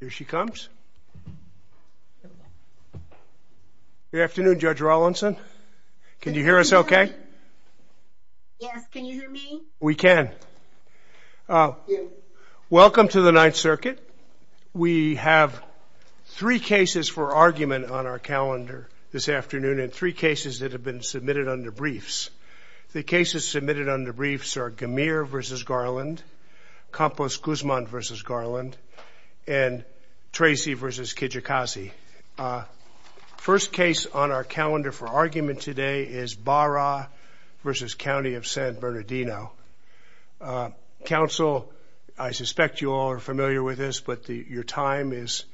Here she comes. Good afternoon Judge Rawlinson. Can you hear us okay? We can. Welcome to the Ninth Circuit. We have three cases for argument on our calendar this afternoon and three cases that have been submitted under briefs. The cases and Tracy v. Kijikazi. First case on our calendar for argument today is Bahra v. County of San Bernardino. Counsel, I suspect you all are familiar with this but your time is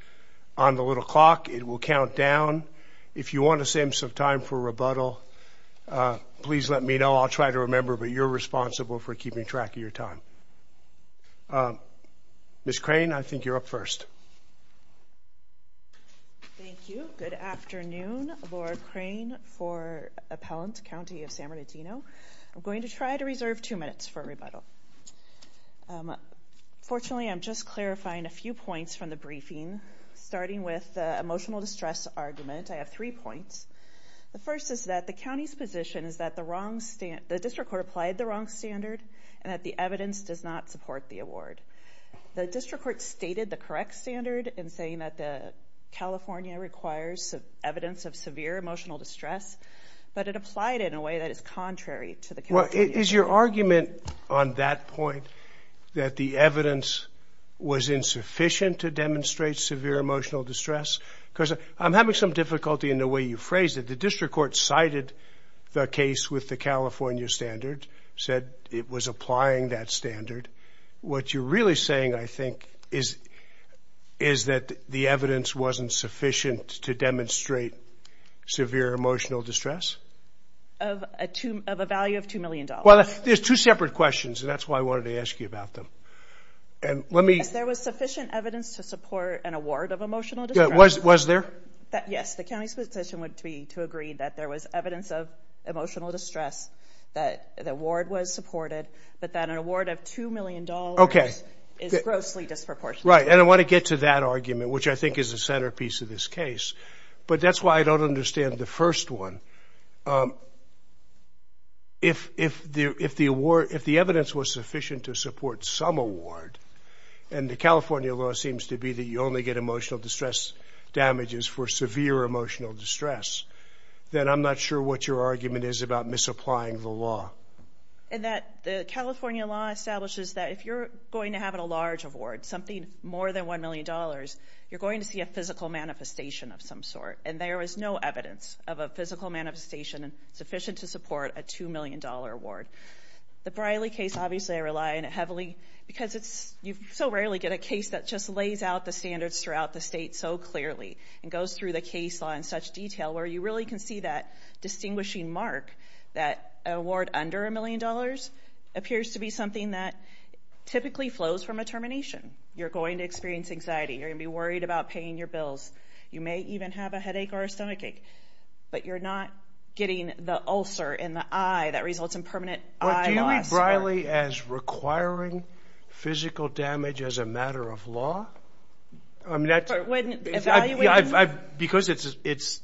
on the little clock. It will count down. If you want to save some time for rebuttal, please let me know. I'll try to remember but you're responsible for keeping track of your time. Ms. Crane, I think you're up first. Thank you. Good afternoon. Laura Crane for Appellant County of San Bernardino. I'm going to try to reserve two minutes for rebuttal. Fortunately, I'm just clarifying a few points from the briefing starting with the emotional distress argument. I have three points. The first is that the county's position is that the evidence does not support the award. The district court stated the correct standard in saying that the California requires evidence of severe emotional distress but it applied in a way that is contrary to the California standard. Is your argument on that point that the evidence was insufficient to demonstrate severe emotional distress? Because I'm having some difficulty in the way you phrase it. The district court cited the case with the California standard, said it was applying that standard. What you're really saying, I think, is that the evidence wasn't sufficient to demonstrate severe emotional distress? Of a value of two million dollars. Well, there's two separate questions and that's why I wanted to ask you about them. Yes, there was sufficient evidence to support an award of emotional distress. Was there? Yes, the county's position would be to agree that there was evidence of emotional distress, that the award was supported, but that an award of two million dollars is grossly disproportionate. Right, and I want to get to that argument, which I think is the centerpiece of this case. But that's why I don't understand the first one. If the evidence was sufficient to support some award, and the California law seems to be that you only get emotional distress damages for severe emotional distress, then I'm not sure what your argument is about misapplying the law. And that the California law establishes that if you're going to have a large award, something more than one million dollars, you're going to see a physical manifestation of some sort. And there is no evidence of a physical manifestation sufficient to support a two million dollar award. The Briley case, obviously I rely on it heavily because it's, you so rarely get a case that just lays out the standards throughout the state so clearly, and goes through the case law in such detail, where you really can see that distinguishing mark that an award under a million dollars appears to be something that typically flows from a termination. You're going to experience anxiety, you're going to be worried about paying your bills, you may even have a headache or a stomachache, but you're not getting the ulcer in the eye that results in permanent eye loss. Do you read Briley as requiring physical damage as a value? Because it's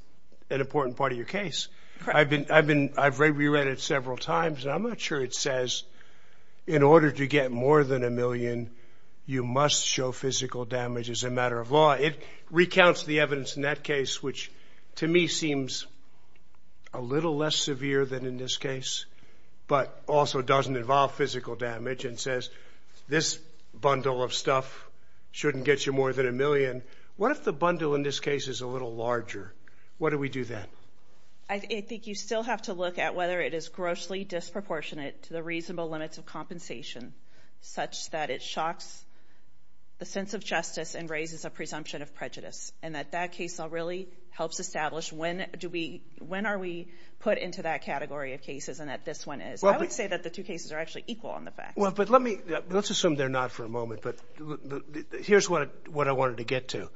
an important part of your case. I've been, I've reread it several times, and I'm not sure it says, in order to get more than a million, you must show physical damage as a matter of law. It recounts the evidence in that case, which to me seems a little less severe than in this case, but also doesn't involve physical damage, and says this bundle of stuff shouldn't get you more than a million. What if the bundle in this case is a little larger? What do we do then? I think you still have to look at whether it is grossly disproportionate to the reasonable limits of compensation, such that it shocks the sense of justice and raises a presumption of prejudice, and that that case law really helps establish when do we, when are we put into that category of cases, and that this one is. I would say that the two cases are actually equal on the facts. Well, but let me, let's assume they're not for a moment, but here's what I wanted to get to.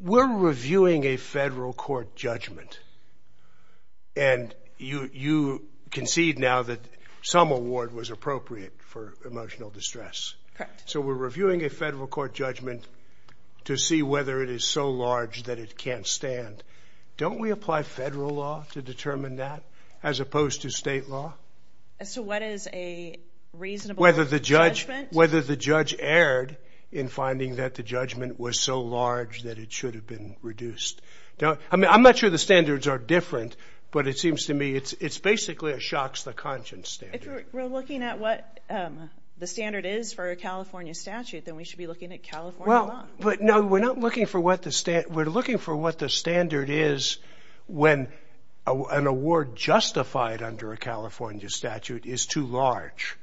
We're reviewing a federal court judgment, and you concede now that some award was appropriate for emotional distress. Correct. So we're reviewing a federal court judgment to see whether it is so large that it can't stand. Don't we apply federal law to determine that, as opposed to state law? So what is a reasonable judgment? Whether the judge erred in finding that the judgment was so large that it should have been reduced. I mean, I'm not sure the standards are different, but it seems to me it's basically a shocks the conscience standard. If we're looking at what the standard is for a California statute, then we should be looking at California law. Well, but no, we're not looking for what the standard, we're looking for what the standard is when an award justified under a California statute is too large.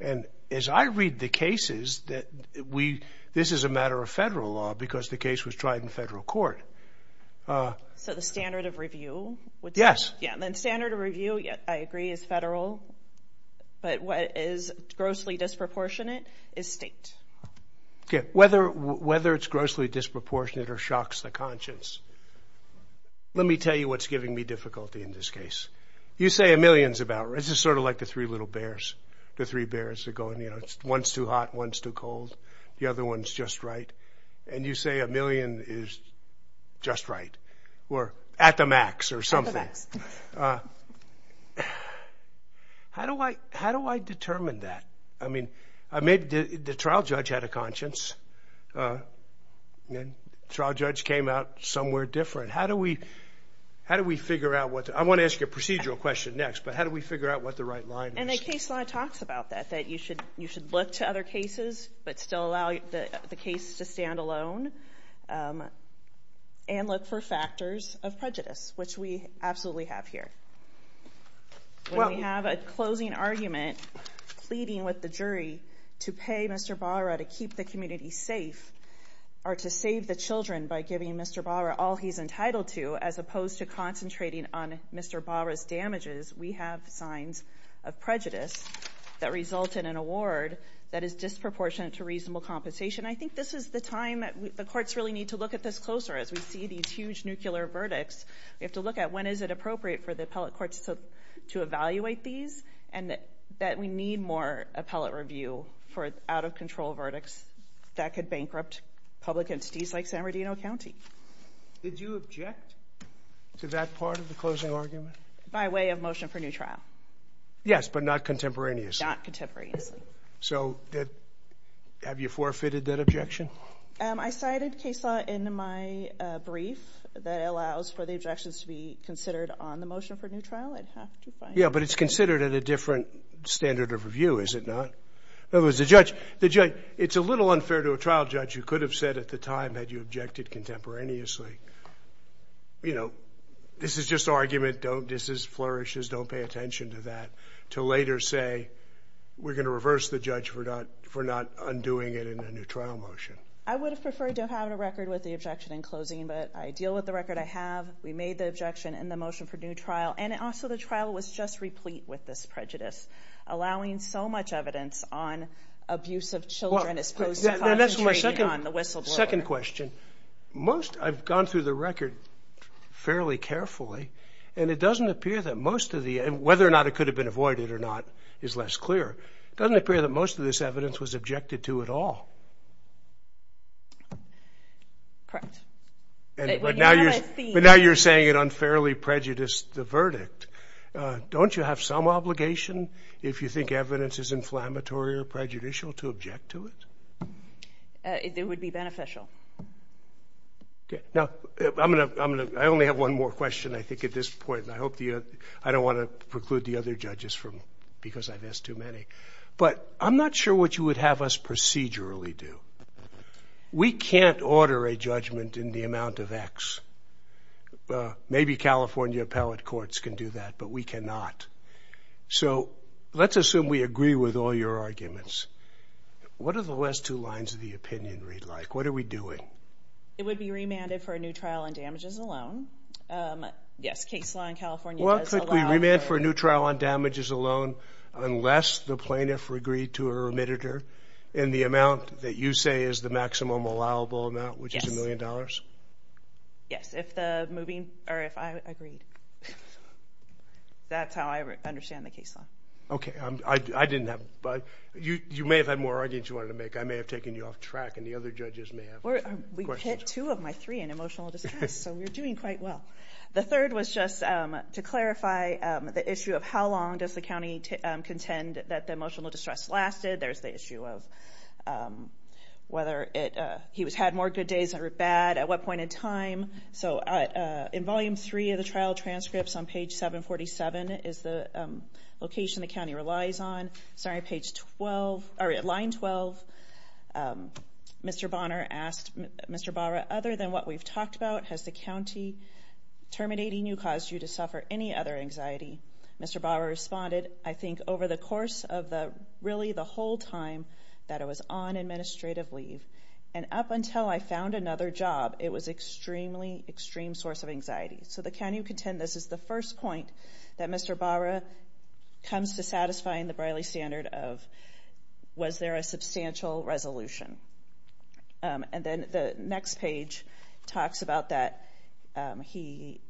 And as I read the cases that we, this is a matter of federal law because the case was tried in federal court. So the standard of review? Yes. Yeah. Then standard of review, I agree, is federal, but what is grossly disproportionate is state. Okay. Whether, whether it's grossly disproportionate or shocks the case. You say a million is about, it's just sort of like the three little bears. The three bears are going, you know, it's one's too hot, one's too cold. The other one's just right. And you say a million is just right. Or at the max or something. Uh, how do I, how do I determine that? I mean, I made the trial judge had a conscience. Uh, trial judge came out somewhere different. How do we, how do we figure out what? I want to ask you a procedural question next. But how do we figure out what the right line is? And the case law talks about that, that you should, you should look to other cases, but still allow the case to stand alone. Um, and look for factors of prejudice, which we absolutely have here. Well, we have a closing argument pleading with the jury to pay Mr Barra to keep the community safe or to save the Children by giving Mr Barra all he's entitled to, as opposed to concentrating on Mr Barra's damages. We have signs of prejudice that result in an award that is disproportionate to reasonable compensation. I think this is the time that the courts really need to look at this closer. As we see these huge nuclear verdicts, we have to look at when is it appropriate for the appellate courts to evaluate these and that that we need more appellate review for out of control verdicts that could you object to that part of the closing argument by way of motion for a new trial? Yes, but not contemporaneously. Not contemporaneously. So that have you forfeited that objection? I cited case law in my brief that allows for the objections to be considered on the motion for a new trial. I'd have to find. Yeah, but it's considered at a different standard of review, is it not? It was the judge. The judge. It's a little unfair to a trial judge. You could have said at the time that you objected contemporaneously. You know, this is just argument. Don't. This is flourishes. Don't pay attention to that. To later say we're gonna reverse the judge for not for not undoing it in a new trial motion. I would have preferred to have a record with the objection in closing, but I deal with the record. I have. We made the objection in the motion for new trial, and it also the trial was just replete with this prejudice, allowing so much evidence on abuse of children, as that's my second on the whistle. Second question. Most I've gone through the record fairly carefully, and it doesn't appear that most of the whether or not it could have been avoided or not is less clear. Doesn't appear that most of this evidence was objected to at all. Correct. But now you're saying it unfairly prejudiced the verdict. Don't you have some obligation if you think evidence is inflammatory or prejudicial to object to it? It would be beneficial. Now, I'm gonna I'm gonna I only have one more question, I think, at this point, and I hope the I don't want to preclude the other judges from because I've asked too many, but I'm not sure what you would have us procedurally do. We can't order a judgment in the amount of X. Maybe California appellate courts can do that, but we cannot. So let's assume we agree with all your arguments. What are the last two lines of the opinion read like? What are we doing? It would be remanded for a new trial on damages alone. Yes, case law in California. Well, could we remand for a new trial on damages alone, unless the plaintiff agreed to a remitter in the amount that you say is the maximum allowable amount, which is a million dollars? Yes, if the moving or if I agreed. That's how I understand the case law. Okay, I didn't have, but you may have had more arguments you wanted to make. I may have taken you off track and the other judges may have questions. We've hit two of my three in emotional distress, so we're doing quite well. The third was just to clarify the issue of how long does the county contend that the emotional distress lasted. There's the issue of whether it he was had more good days or bad at what point in time. So in volume three of the trial transcripts on page 747 is the location the county relies on. Sorry, line 12. Mr. Bonner asked Mr. Barra, other than what we've talked about, has the county terminating you caused you to suffer any other anxiety? Mr. Barra responded, I think, over the course of really the whole time that I was on administrative leave. And up until I found another job, it was extremely extreme source of anxiety. So the county contend this is the first point that Mr. Barra comes to satisfying the Briley standard of, was there a substantial resolution? And then the next page talks about that. He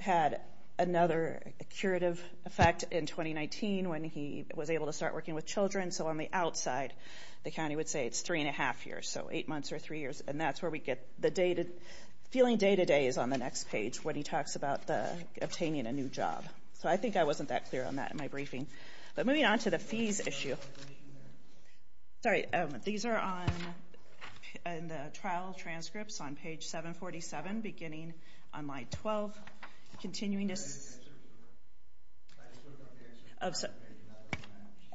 had another curative effect in 2019 when he was able to start working with children. So on the outside, the county would say it's three and a half years. So eight months or three years. And that's where we get the feeling day to day is on the next page when he talks about obtaining a new job. So I think I wasn't that clear on that in my briefing. But moving on to the fees issue. Sorry, these are on the trial transcripts on page 747, beginning on line 12, continuing to...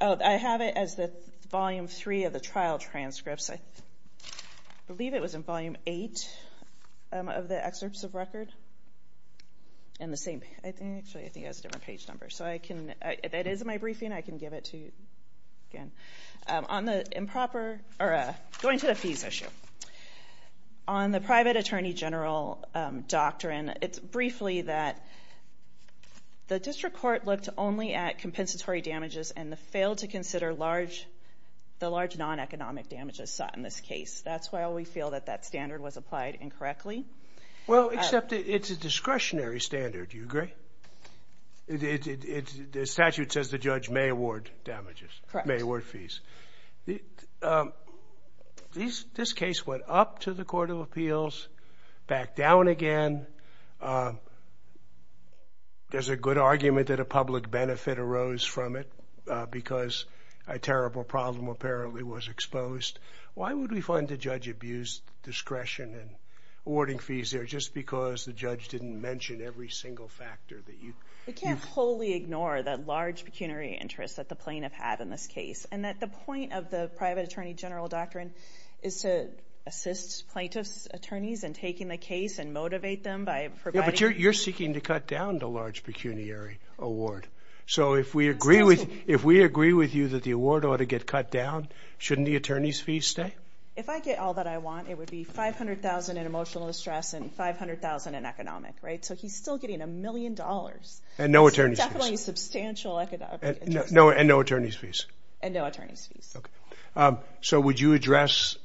I have it as the volume three of the trial transcripts. I believe it was in volume eight of the excerpts of record. And the same... Actually, I think it has a different page number. So I can... If it is in my briefing, I can give it to you again. On the improper... Or going to the fees issue. On the private attorney general doctrine, it's briefly that the district court looked only at compensatory damages and failed to consider the large non economic damages sought in this case. That's why we feel that that standard was applied incorrectly. Well, except it's a discretionary standard. Do you agree? The statute says the judge may award damages. Correct. May award fees. This case went up to the Court of Appeals, back down again. There's a good argument that a public benefit arose from it because a terrible problem apparently was exposed. Why would we fund a judge abused discretion in awarding fees there just because the judge didn't mention every single factor that you... We can't wholly ignore that large pecuniary interest that the plaintiff had in this case. And that the point of the private attorney general doctrine is to assist plaintiff's attorneys in taking the case and motivate them by providing... Yeah, but you're seeking to cut down the large pecuniary award. So if we agree with you that the award ought to get cut down, shouldn't the attorney's fees stay? If I get all that I want, it would be 500,000 in emotional distress and 500,000 in economic, right? So he's still getting a million dollars. And no attorney's fees. Definitely substantial economic... And no attorney's fees. And no attorney's fees. Okay. So would you address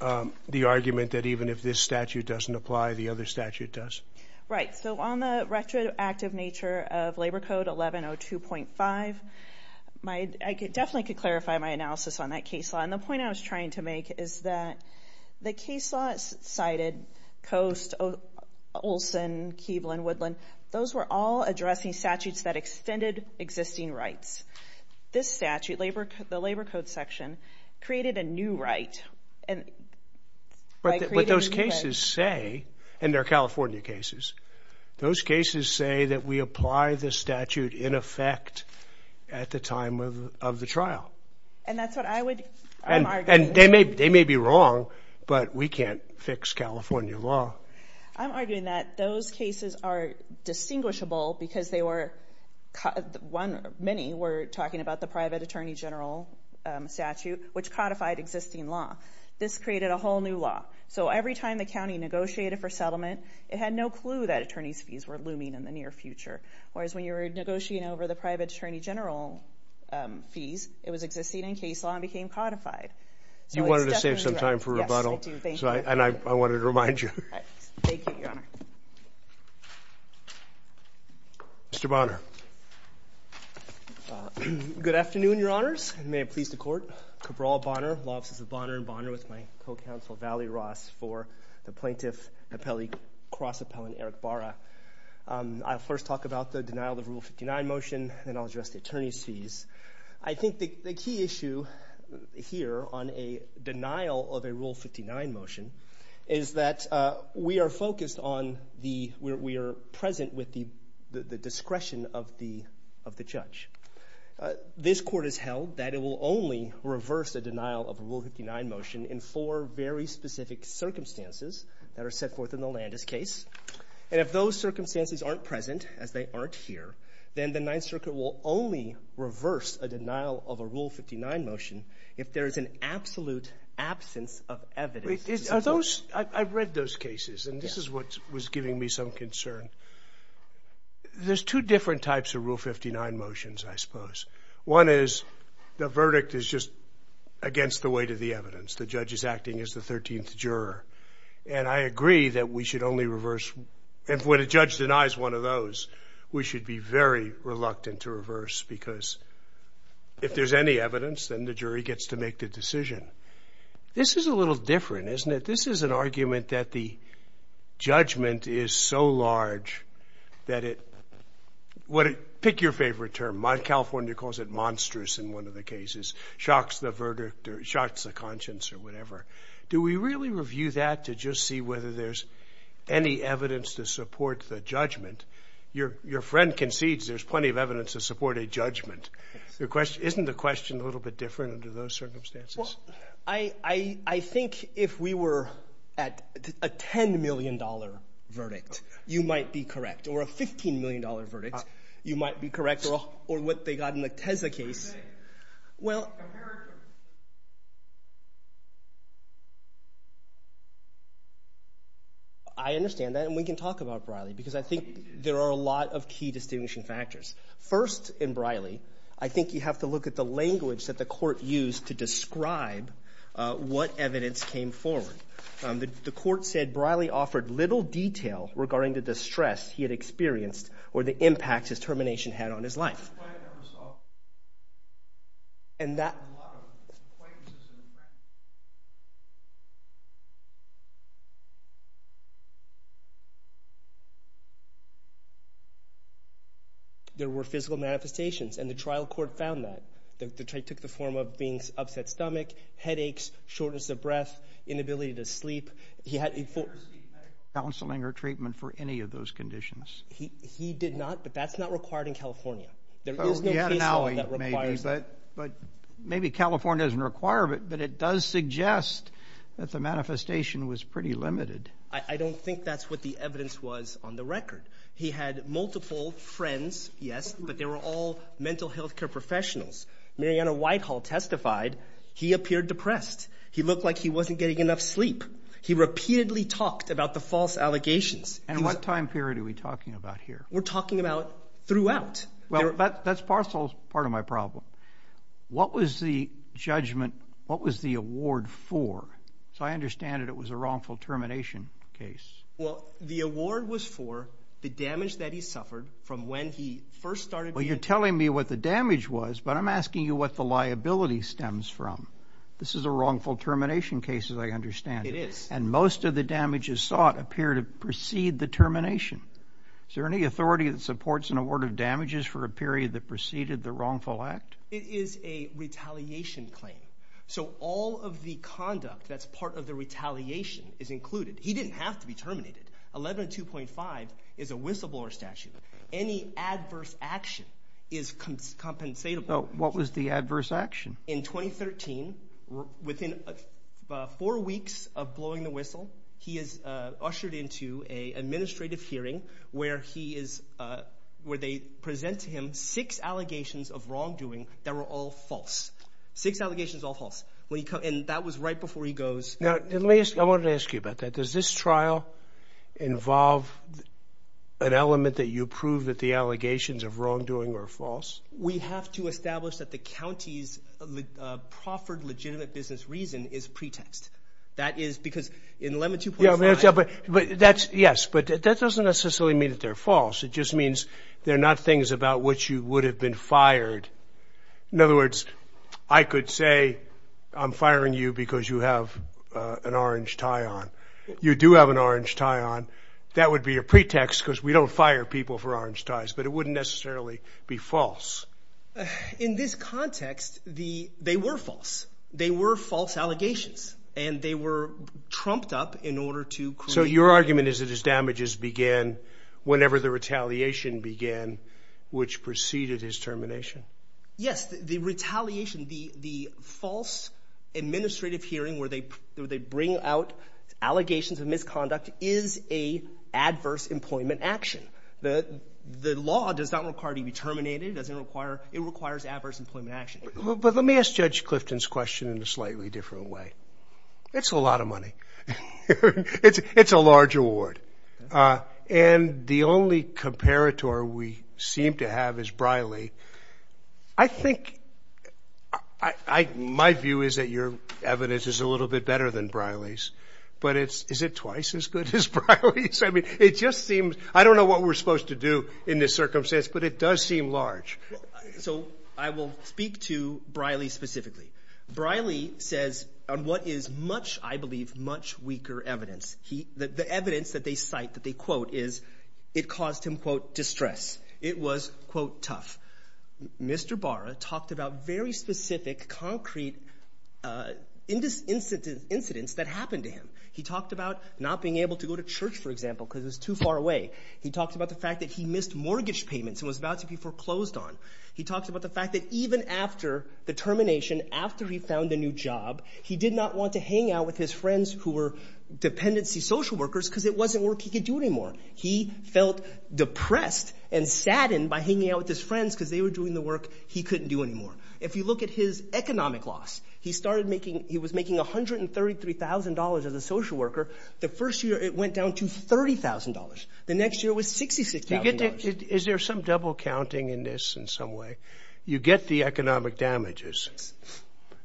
the argument that even if this statute doesn't apply, the other statute does? Right. So on the retroactive nature of Labor Code 1102.5, I definitely could clarify my analysis on that case law. And the point I was trying to make is that the case laws cited Coast, Olson, Keeblin, Woodland, those were all addressing statutes that extended existing rights. This statute, the Labor Code section, created a new right. And... But those cases say, and they're California cases, those cases say that we apply the statute in effect at the time of the trial. And that's what I would... I'm arguing... And they may be wrong, but we can't fix California law. I'm arguing that those cases are distinguishable because they were... Many were talking about the private attorney general statute, which codified existing law. This created a whole new law. So every time the county negotiated for settlement, it had no clue that attorney's fees were looming in the near future. Whereas when you were negotiating over the private attorney general fees, it was existing in case law and became codified. So it's definitely... You wanted to save some time for rebuttal. Yes, I do. Thank you. And I wanted to remind you. Right. Thank you, Your Honor. Mr. Bonner. Good afternoon, Your Honors. May it please the Court. Cabral Bonner, Law Offices of Bonner and Bonner with my co counsel, Vali Ross, for the plaintiff, appellee, cross appellant, Eric Barra. I'll first talk about the denial of Rule 59 motion, then I'll address the attorney's fees. I think the key issue here on a denial of a Rule 59 motion is that we are focused on the... We are present with the discretion of the judge. This court has held that it will only reverse a denial of a Rule 59 motion in four very specific circumstances that are set forth in the Landis case. And if those circumstances aren't present, as they aren't here, then the Ninth Circuit will only reverse a denial of a Rule 59 motion if there is an absolute absence of evidence. Are those... I've read those cases, and this is what was giving me some concern. There's two different types of Rule 59 motions, I suppose. One is the verdict is just against the weight of the evidence. The judge is acting as the 13th juror. And I agree that we should only reverse... And when a judge denies one of those, we should be very reluctant to reverse because if there's any evidence, then the jury gets to make the decision. This is a little different, isn't it? This is an argument that the verdict is so large that it... Pick your favorite term. California calls it monstrous in one of the cases. Shocks the verdict or shocks the conscience or whatever. Do we really review that to just see whether there's any evidence to support the judgment? Your friend concedes there's plenty of evidence to support a judgment. Isn't the question a little bit different under those circumstances? Well, I think if we were at a $10 million verdict, you might be correct. Or a $15 million verdict, you might be correct. Or what they got in the Teza case. Well... I understand that, and we can talk about Briley because I think there are a lot of key distinguishing factors. First, in Briley, I think you have to look what evidence came forward. The court said Briley offered little detail regarding the distress he had experienced or the impact his termination had on his life. And that... There were physical manifestations, and the trial court found that. They took the form of being... Upset stomach, headaches, shortness of breath, inability to sleep. He had... Counseling or treatment for any of those conditions. He did not, but that's not required in California. There is no case law that requires... But maybe California doesn't require it, but it does suggest that the manifestation was pretty limited. I don't think that's what the evidence was on the record. He had multiple friends, yes, but they were all mental health care professionals. Mariana Whitehall testified, he appeared depressed. He looked like he wasn't getting enough sleep. He repeatedly talked about the false allegations. And what time period are we talking about here? We're talking about throughout. That's part of my problem. What was the judgment... What was the award for? So I understand that it was a wrongful termination case. Well, the award was for the damage that he suffered from when he first started... Well, you're telling me what the damage was, but I'm asking you what the liability stems from. This is a wrongful termination case, as I understand it. It is. And most of the damages sought appear to precede the termination. Is there any authority that supports an award of damages for a period that preceded the wrongful act? It is a retaliation claim. So all of the conduct that's part of the retaliation is included. He didn't have to be terminated. 11.2.5 is a whistleblower statute. Any adverse action is compensatable. What was the adverse action? In 2013, within four weeks of blowing the whistle, he is ushered into an administrative hearing where they present to him six allegations of wrongdoing that were all false. Six allegations, all false. And that was right before he was terminated. Does this trial involve an element that you prove that the allegations of wrongdoing are false? We have to establish that the county's proffered legitimate business reason is pretext. That is because in 11.2.5... Yeah, but that's... Yes, but that doesn't necessarily mean that they're false. It just means they're not things about which you would have been fired. In other words, I could say I'm firing you because you have an orange tie on. You do have an orange tie on. That would be a pretext because we don't fire people for orange ties, but it wouldn't necessarily be false. In this context, they were false. They were false allegations and they were trumped up in order to create... So your argument is that his damages began whenever the retaliation began, which preceded his termination? Yes, the retaliation, the false administrative hearing where they bring out allegations of misconduct is a adverse employment action. The law does not require to be terminated. It requires adverse employment action. But let me ask Judge Clifton's question in a slightly different way. It's a lot of money. It's a large award. And the only comparator we seem to have is Briley. My view is that your evidence is a little bit better than Briley's, but is it twice as good as Briley's? I don't know what we're supposed to do in this circumstance, but it does seem large. So I will speak to Briley specifically. Briley says on what is much, I believe, much weaker evidence. The evidence that they cite, that they stress, it was, quote, tough. Mr. Barra talked about very specific, concrete incidents that happened to him. He talked about not being able to go to church, for example, because it was too far away. He talked about the fact that he missed mortgage payments and was about to be foreclosed on. He talked about the fact that even after the termination, after he found a new job, he did not want to hang out with his friends who were dependency social workers because it wasn't work he could do anymore. He felt depressed and saddened by hanging out with his friends because they were doing the work he couldn't do anymore. If you look at his economic loss, he was making $133,000 as a social worker. The first year, it went down to $30,000. The next year, it was $66,000. Is there some double counting in this in some way? You get the economic damages.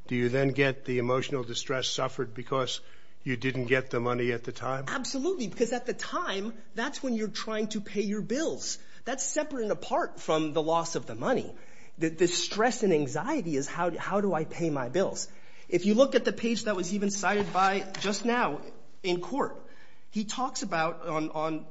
Do you then get the emotional distress suffered because you didn't get the money at the time? Absolutely, because at the time, that's when you're trying to pay your bills. That's separate and apart from the loss of the money. The stress and anxiety is, how do I pay my bills? If you look at the page that was even cited by, just now, in court, he talks about on...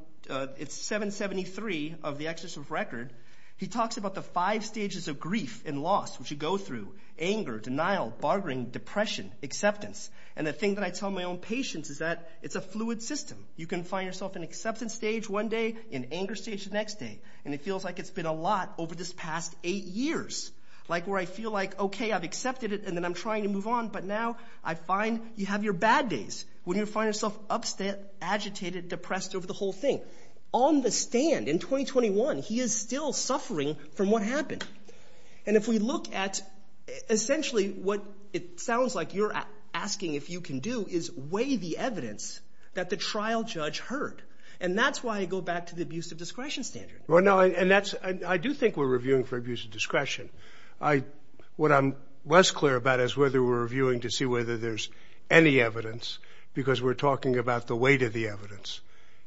It's 773 of the excess of record. He talks about the five stages of grief and loss which you go through. Anger, denial, bartering, depression, acceptance. And the thing that I tell my own patients is that it's a fluid system. You can find yourself in acceptance stage one day, in anger stage the next day. And it feels like it's been a lot over this past eight years, where I feel like, okay, I've accepted it, and then I'm trying to move on. But now, I find you have your bad days when you find yourself agitated, depressed over the whole thing. On the stand, in 2021, he is still suffering from what happened. And if we look at, essentially, what it sounds like you're asking if you can do is weigh the evidence that the trial judge heard. And that's why I go back to the abuse of discretion standard. Well, no, and that's... I do think we're reviewing for abuse of discretion. What I'm less clear about is whether we're reviewing to see whether there's any evidence, because we're talking about the weight of the evidence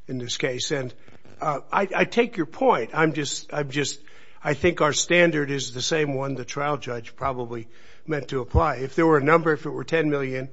in this case. And I take your point. I'm just... I think our standard is the same one the trial judge probably meant to apply. If there were a number, if it were 10 million,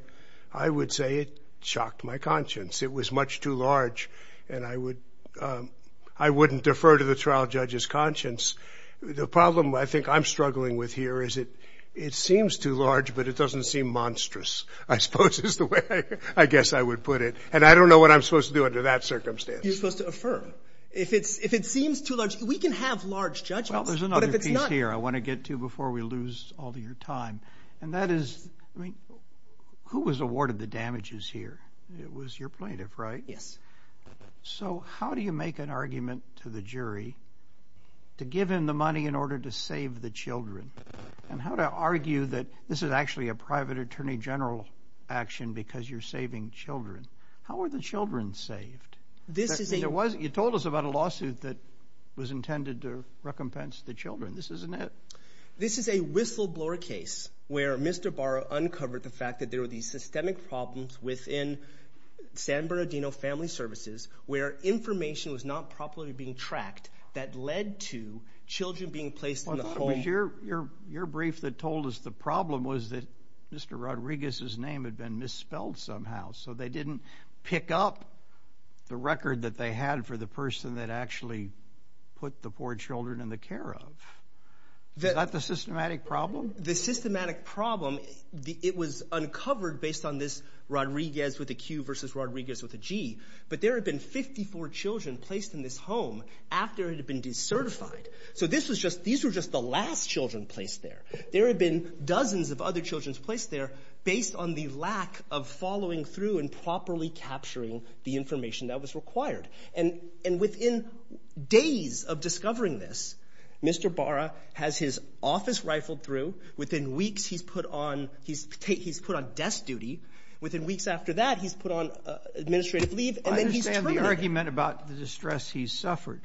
I would say it shocked my conscience. It was much too large, and I wouldn't defer to the trial judge's conscience. The problem I think I'm struggling with here is it seems too large, but it doesn't seem monstrous, I suppose, is the way I guess I would put it. And I don't know what I'm supposed to do under that circumstance. You're supposed to affirm. If it seems too large... We can have large judgments, but if it's not... Well, there's another piece here I wanna get to before we lose all of your time, and that is... Who was awarded the damages here? It was your plaintiff, right? Yes. So how do you make an argument to the jury to give him the money in order to save the children? And how to argue that this is actually a private attorney general action because you're saving children? How are the children saved? You told us about a lawsuit that was intended to recompense the children. This isn't it? This is a whistleblower case where Mr. Barra uncovered the fact that there were these systemic problems within San Bernardino Family Services where information was not properly being tracked that led to children being placed in the home. I thought it was your brief that told us the problem was that Mr. Rodriguez's name had been misspelled somehow, so they didn't pick up the record that they had for the person that actually put the four children in the care of. Is that the systematic problem? The systematic problem, it was uncovered based on this Rodriguez with a Q versus Rodriguez with a G, but there had been 54 children placed in this home after it had been decertified. So these were just the last children placed there. There had been dozens of other children placed there based on the lack of following through and properly capturing the information that was required. And within days of discovering this, Mr. Barra has his office rifled through. Within weeks, he's put on desk duty. Within weeks after that, he's put on administrative leave and then he's terminated. I understand the argument about the distress he's suffered.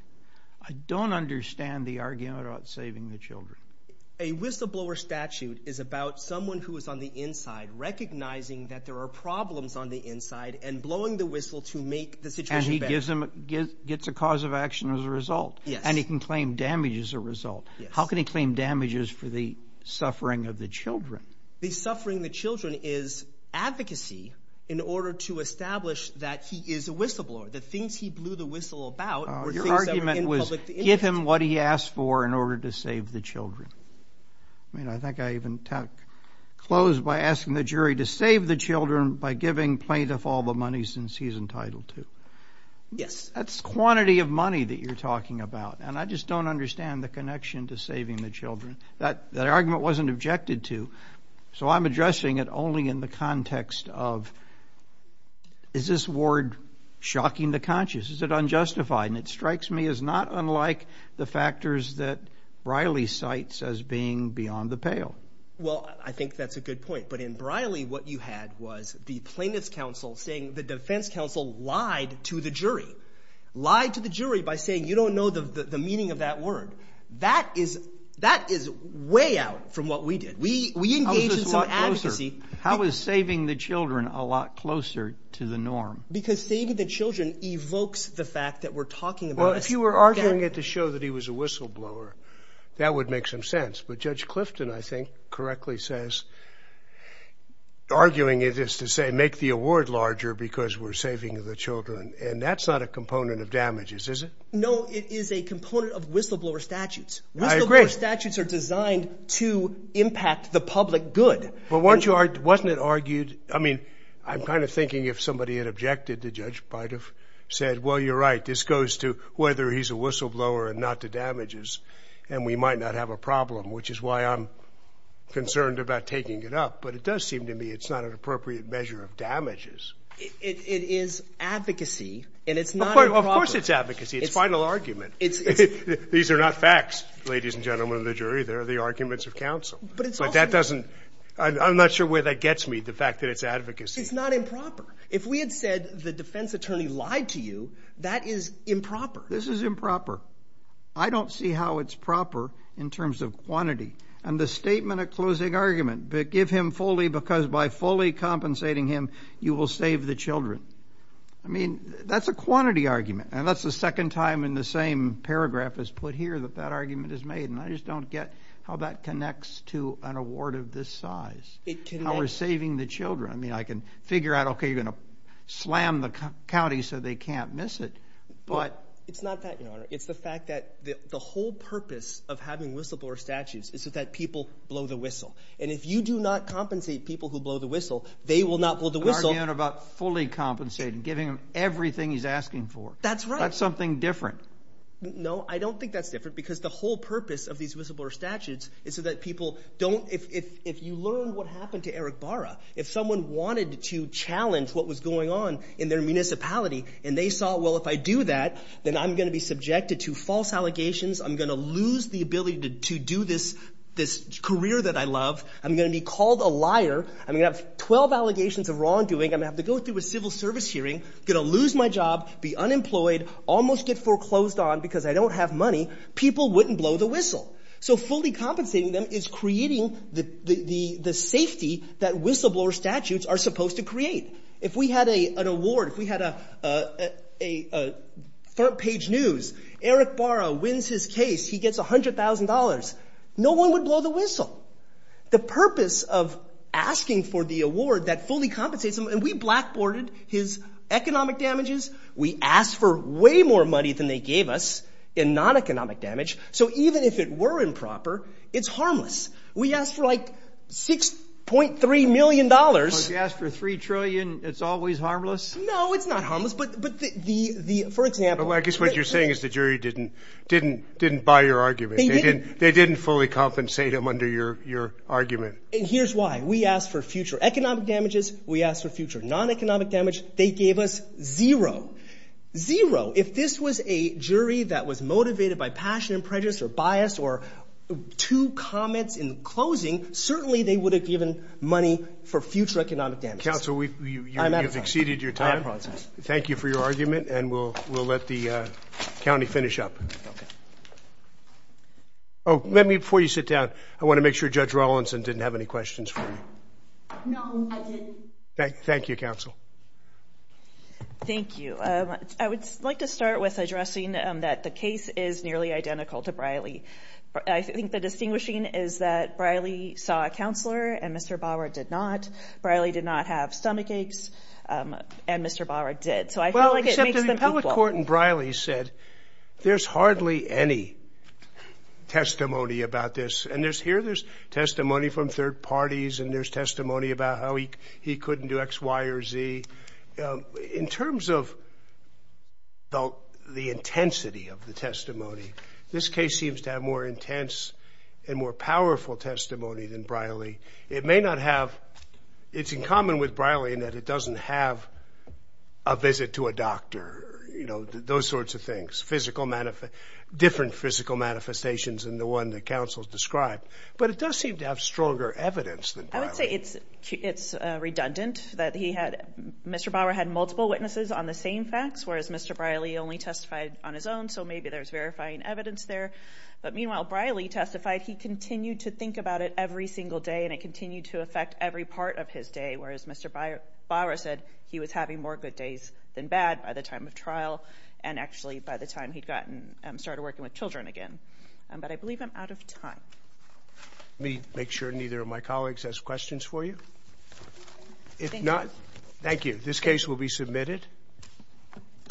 I don't understand the argument about saving the children. A whistleblower statute is about someone who is on the inside recognizing that there are problems on the inside and blowing the whistle to make the situation better. And he gets a cause of action as a result. Yes. And he can claim damage as a result. Yes. How can he claim damages for the suffering of the children? The suffering of the children is advocacy in order to establish that he is a whistleblower. The things he blew the whistle about were things that were in public interest. Your argument was, give him what he asked for in order to save the children. By giving plaintiff all the money since he's entitled to. Yes. That's quantity of money that you're talking about. And I just don't understand the connection to saving the children. That argument wasn't objected to. So I'm addressing it only in the context of, is this word shocking the conscious? Is it unjustified? And it strikes me as not unlike the factors that Briley cites as being beyond the pale. Well, I think that's a good point. But in Briley, what you had was the plaintiff's counsel saying the defense counsel lied to the jury. Lied to the jury by saying, you don't know the meaning of that word. That is way out from what we did. We engaged in some advocacy. How is saving the children a lot closer to the norm? Because saving the children evokes the fact that we're talking about... Well, if you were arguing it to show that he was a whistleblower, that would make some sense. But Judge Clifton, I think, correctly says, arguing it is to say, make the award larger because we're saving the children. And that's not a component of damages, is it? No, it is a component of whistleblower statutes. Whistleblower statutes are designed to impact the public good. But weren't you... Wasn't it argued... I mean, I'm kind of thinking if somebody had objected, the judge might have said, well, you're right. This goes to whether he's a whistleblower and not to damages. And we might not have a problem, which is why I'm concerned about taking it up. But it does seem to me it's not an appropriate measure of damages. It is advocacy and it's not improper. Of course it's advocacy. It's final argument. These are not facts, ladies and gentlemen of the jury. They're the arguments of counsel. But it's also... But that doesn't... I'm not sure where that gets me, the fact that it's advocacy. It's not improper. If we had said the defense attorney lied to you, that is improper. This is improper. I don't see how it's proper in terms of quantity. And the statement at closing argument, give him fully because by fully compensating him, you will save the children. I mean, that's a quantity argument. And that's the second time in the same paragraph as put here that that argument is made. And I just don't get how that connects to an award of this size. It connects. How we're saving the children. I mean, I can figure out, okay, you're gonna slam the county so they can't miss it, but... It's not that, Your Honor. It's the fact that the whole purpose of having whistleblower statutes is so that people blow the whistle. And if you do not compensate people who blow the whistle, they will not blow the whistle. You're arguing about fully compensating, giving him everything he's asking for. That's right. That's something different. No, I don't think that's different because the whole purpose of these whistleblower statutes is so that people don't... If you learn what happened to Eric Barra, if someone wanted to challenge what was going on in their municipality, and they saw, well, if I do that, then I'm gonna be subjected to false allegations, I'm gonna lose the ability to do this career that I love, I'm gonna be called a liar, I'm gonna have 12 allegations of wrongdoing, I'm gonna have to go through a civil service hearing, gonna lose my job, be unemployed, almost get foreclosed on because I don't have money, people wouldn't blow the whistle. So fully compensating them is creating the safety that whistleblower statutes are supposed to create. If we had an award, if we had a front page news, Eric Barra wins his case, he gets $100,000, no one would blow the whistle. The purpose of asking for the award that fully compensates him, and we blackboarded his economic damages, we asked for way more money than they gave us in non economic damage, so even if it were improper, it's harmless. We asked for like $6.3 million. So if you asked for $3 trillion, it's always harmless? No, it's not harmless, but for example... I guess what you're saying is the jury didn't buy your argument, they didn't fully compensate him under your argument. And here's why, we asked for future economic damages, we asked for future non economic damage, they gave us zero. Zero, if this was a jury that was motivated by passion and prejudice or bias or two comments in closing, certainly they would have given money for future economic damage. Counsel, you've exceeded your time. I'm at a process. Thank you for your argument and we'll let the county finish up. Okay. Oh, let me, before you sit down, I wanna make sure Judge Rawlinson didn't have any questions for you. No, I didn't. Thank you, counsel. Thank you. I would like to start with addressing that the case is nearly identical to Briley. I think the distinguishing is that Briley saw a counselor and Mr. Bauer did not. Briley did not have stomach aches and Mr. Bauer did. So I feel like it makes them equal. Well, except the appellate court in Briley said, there's hardly any testimony about this. And here there's testimony from third parties and there's testimony about how he couldn't do X, Y or Z. In terms of the intensity of the testimony, this case seems to have more intense and more powerful testimony than Briley. It may not have... It's in common with Briley in that it doesn't have a visit to a doctor, you know, those sorts of things, different physical manifestations than the one that counsel described. But it does seem to have stronger evidence than Briley. I would say it's redundant that he had... Mr. Bauer had multiple witnesses on the same facts, whereas Mr. Briley only testified on his own. So maybe there's verifying evidence there. But meanwhile, Briley testified he continued to think about it every single day and it continued to affect every part of his day. Whereas Mr. Bauer said he was having more good days than bad by the time of trial and actually by the time he'd gotten started working with Children again. But I believe I'm out of time. Let me make sure neither of my colleagues has questions for you. If not, thank you. This case will be submitted.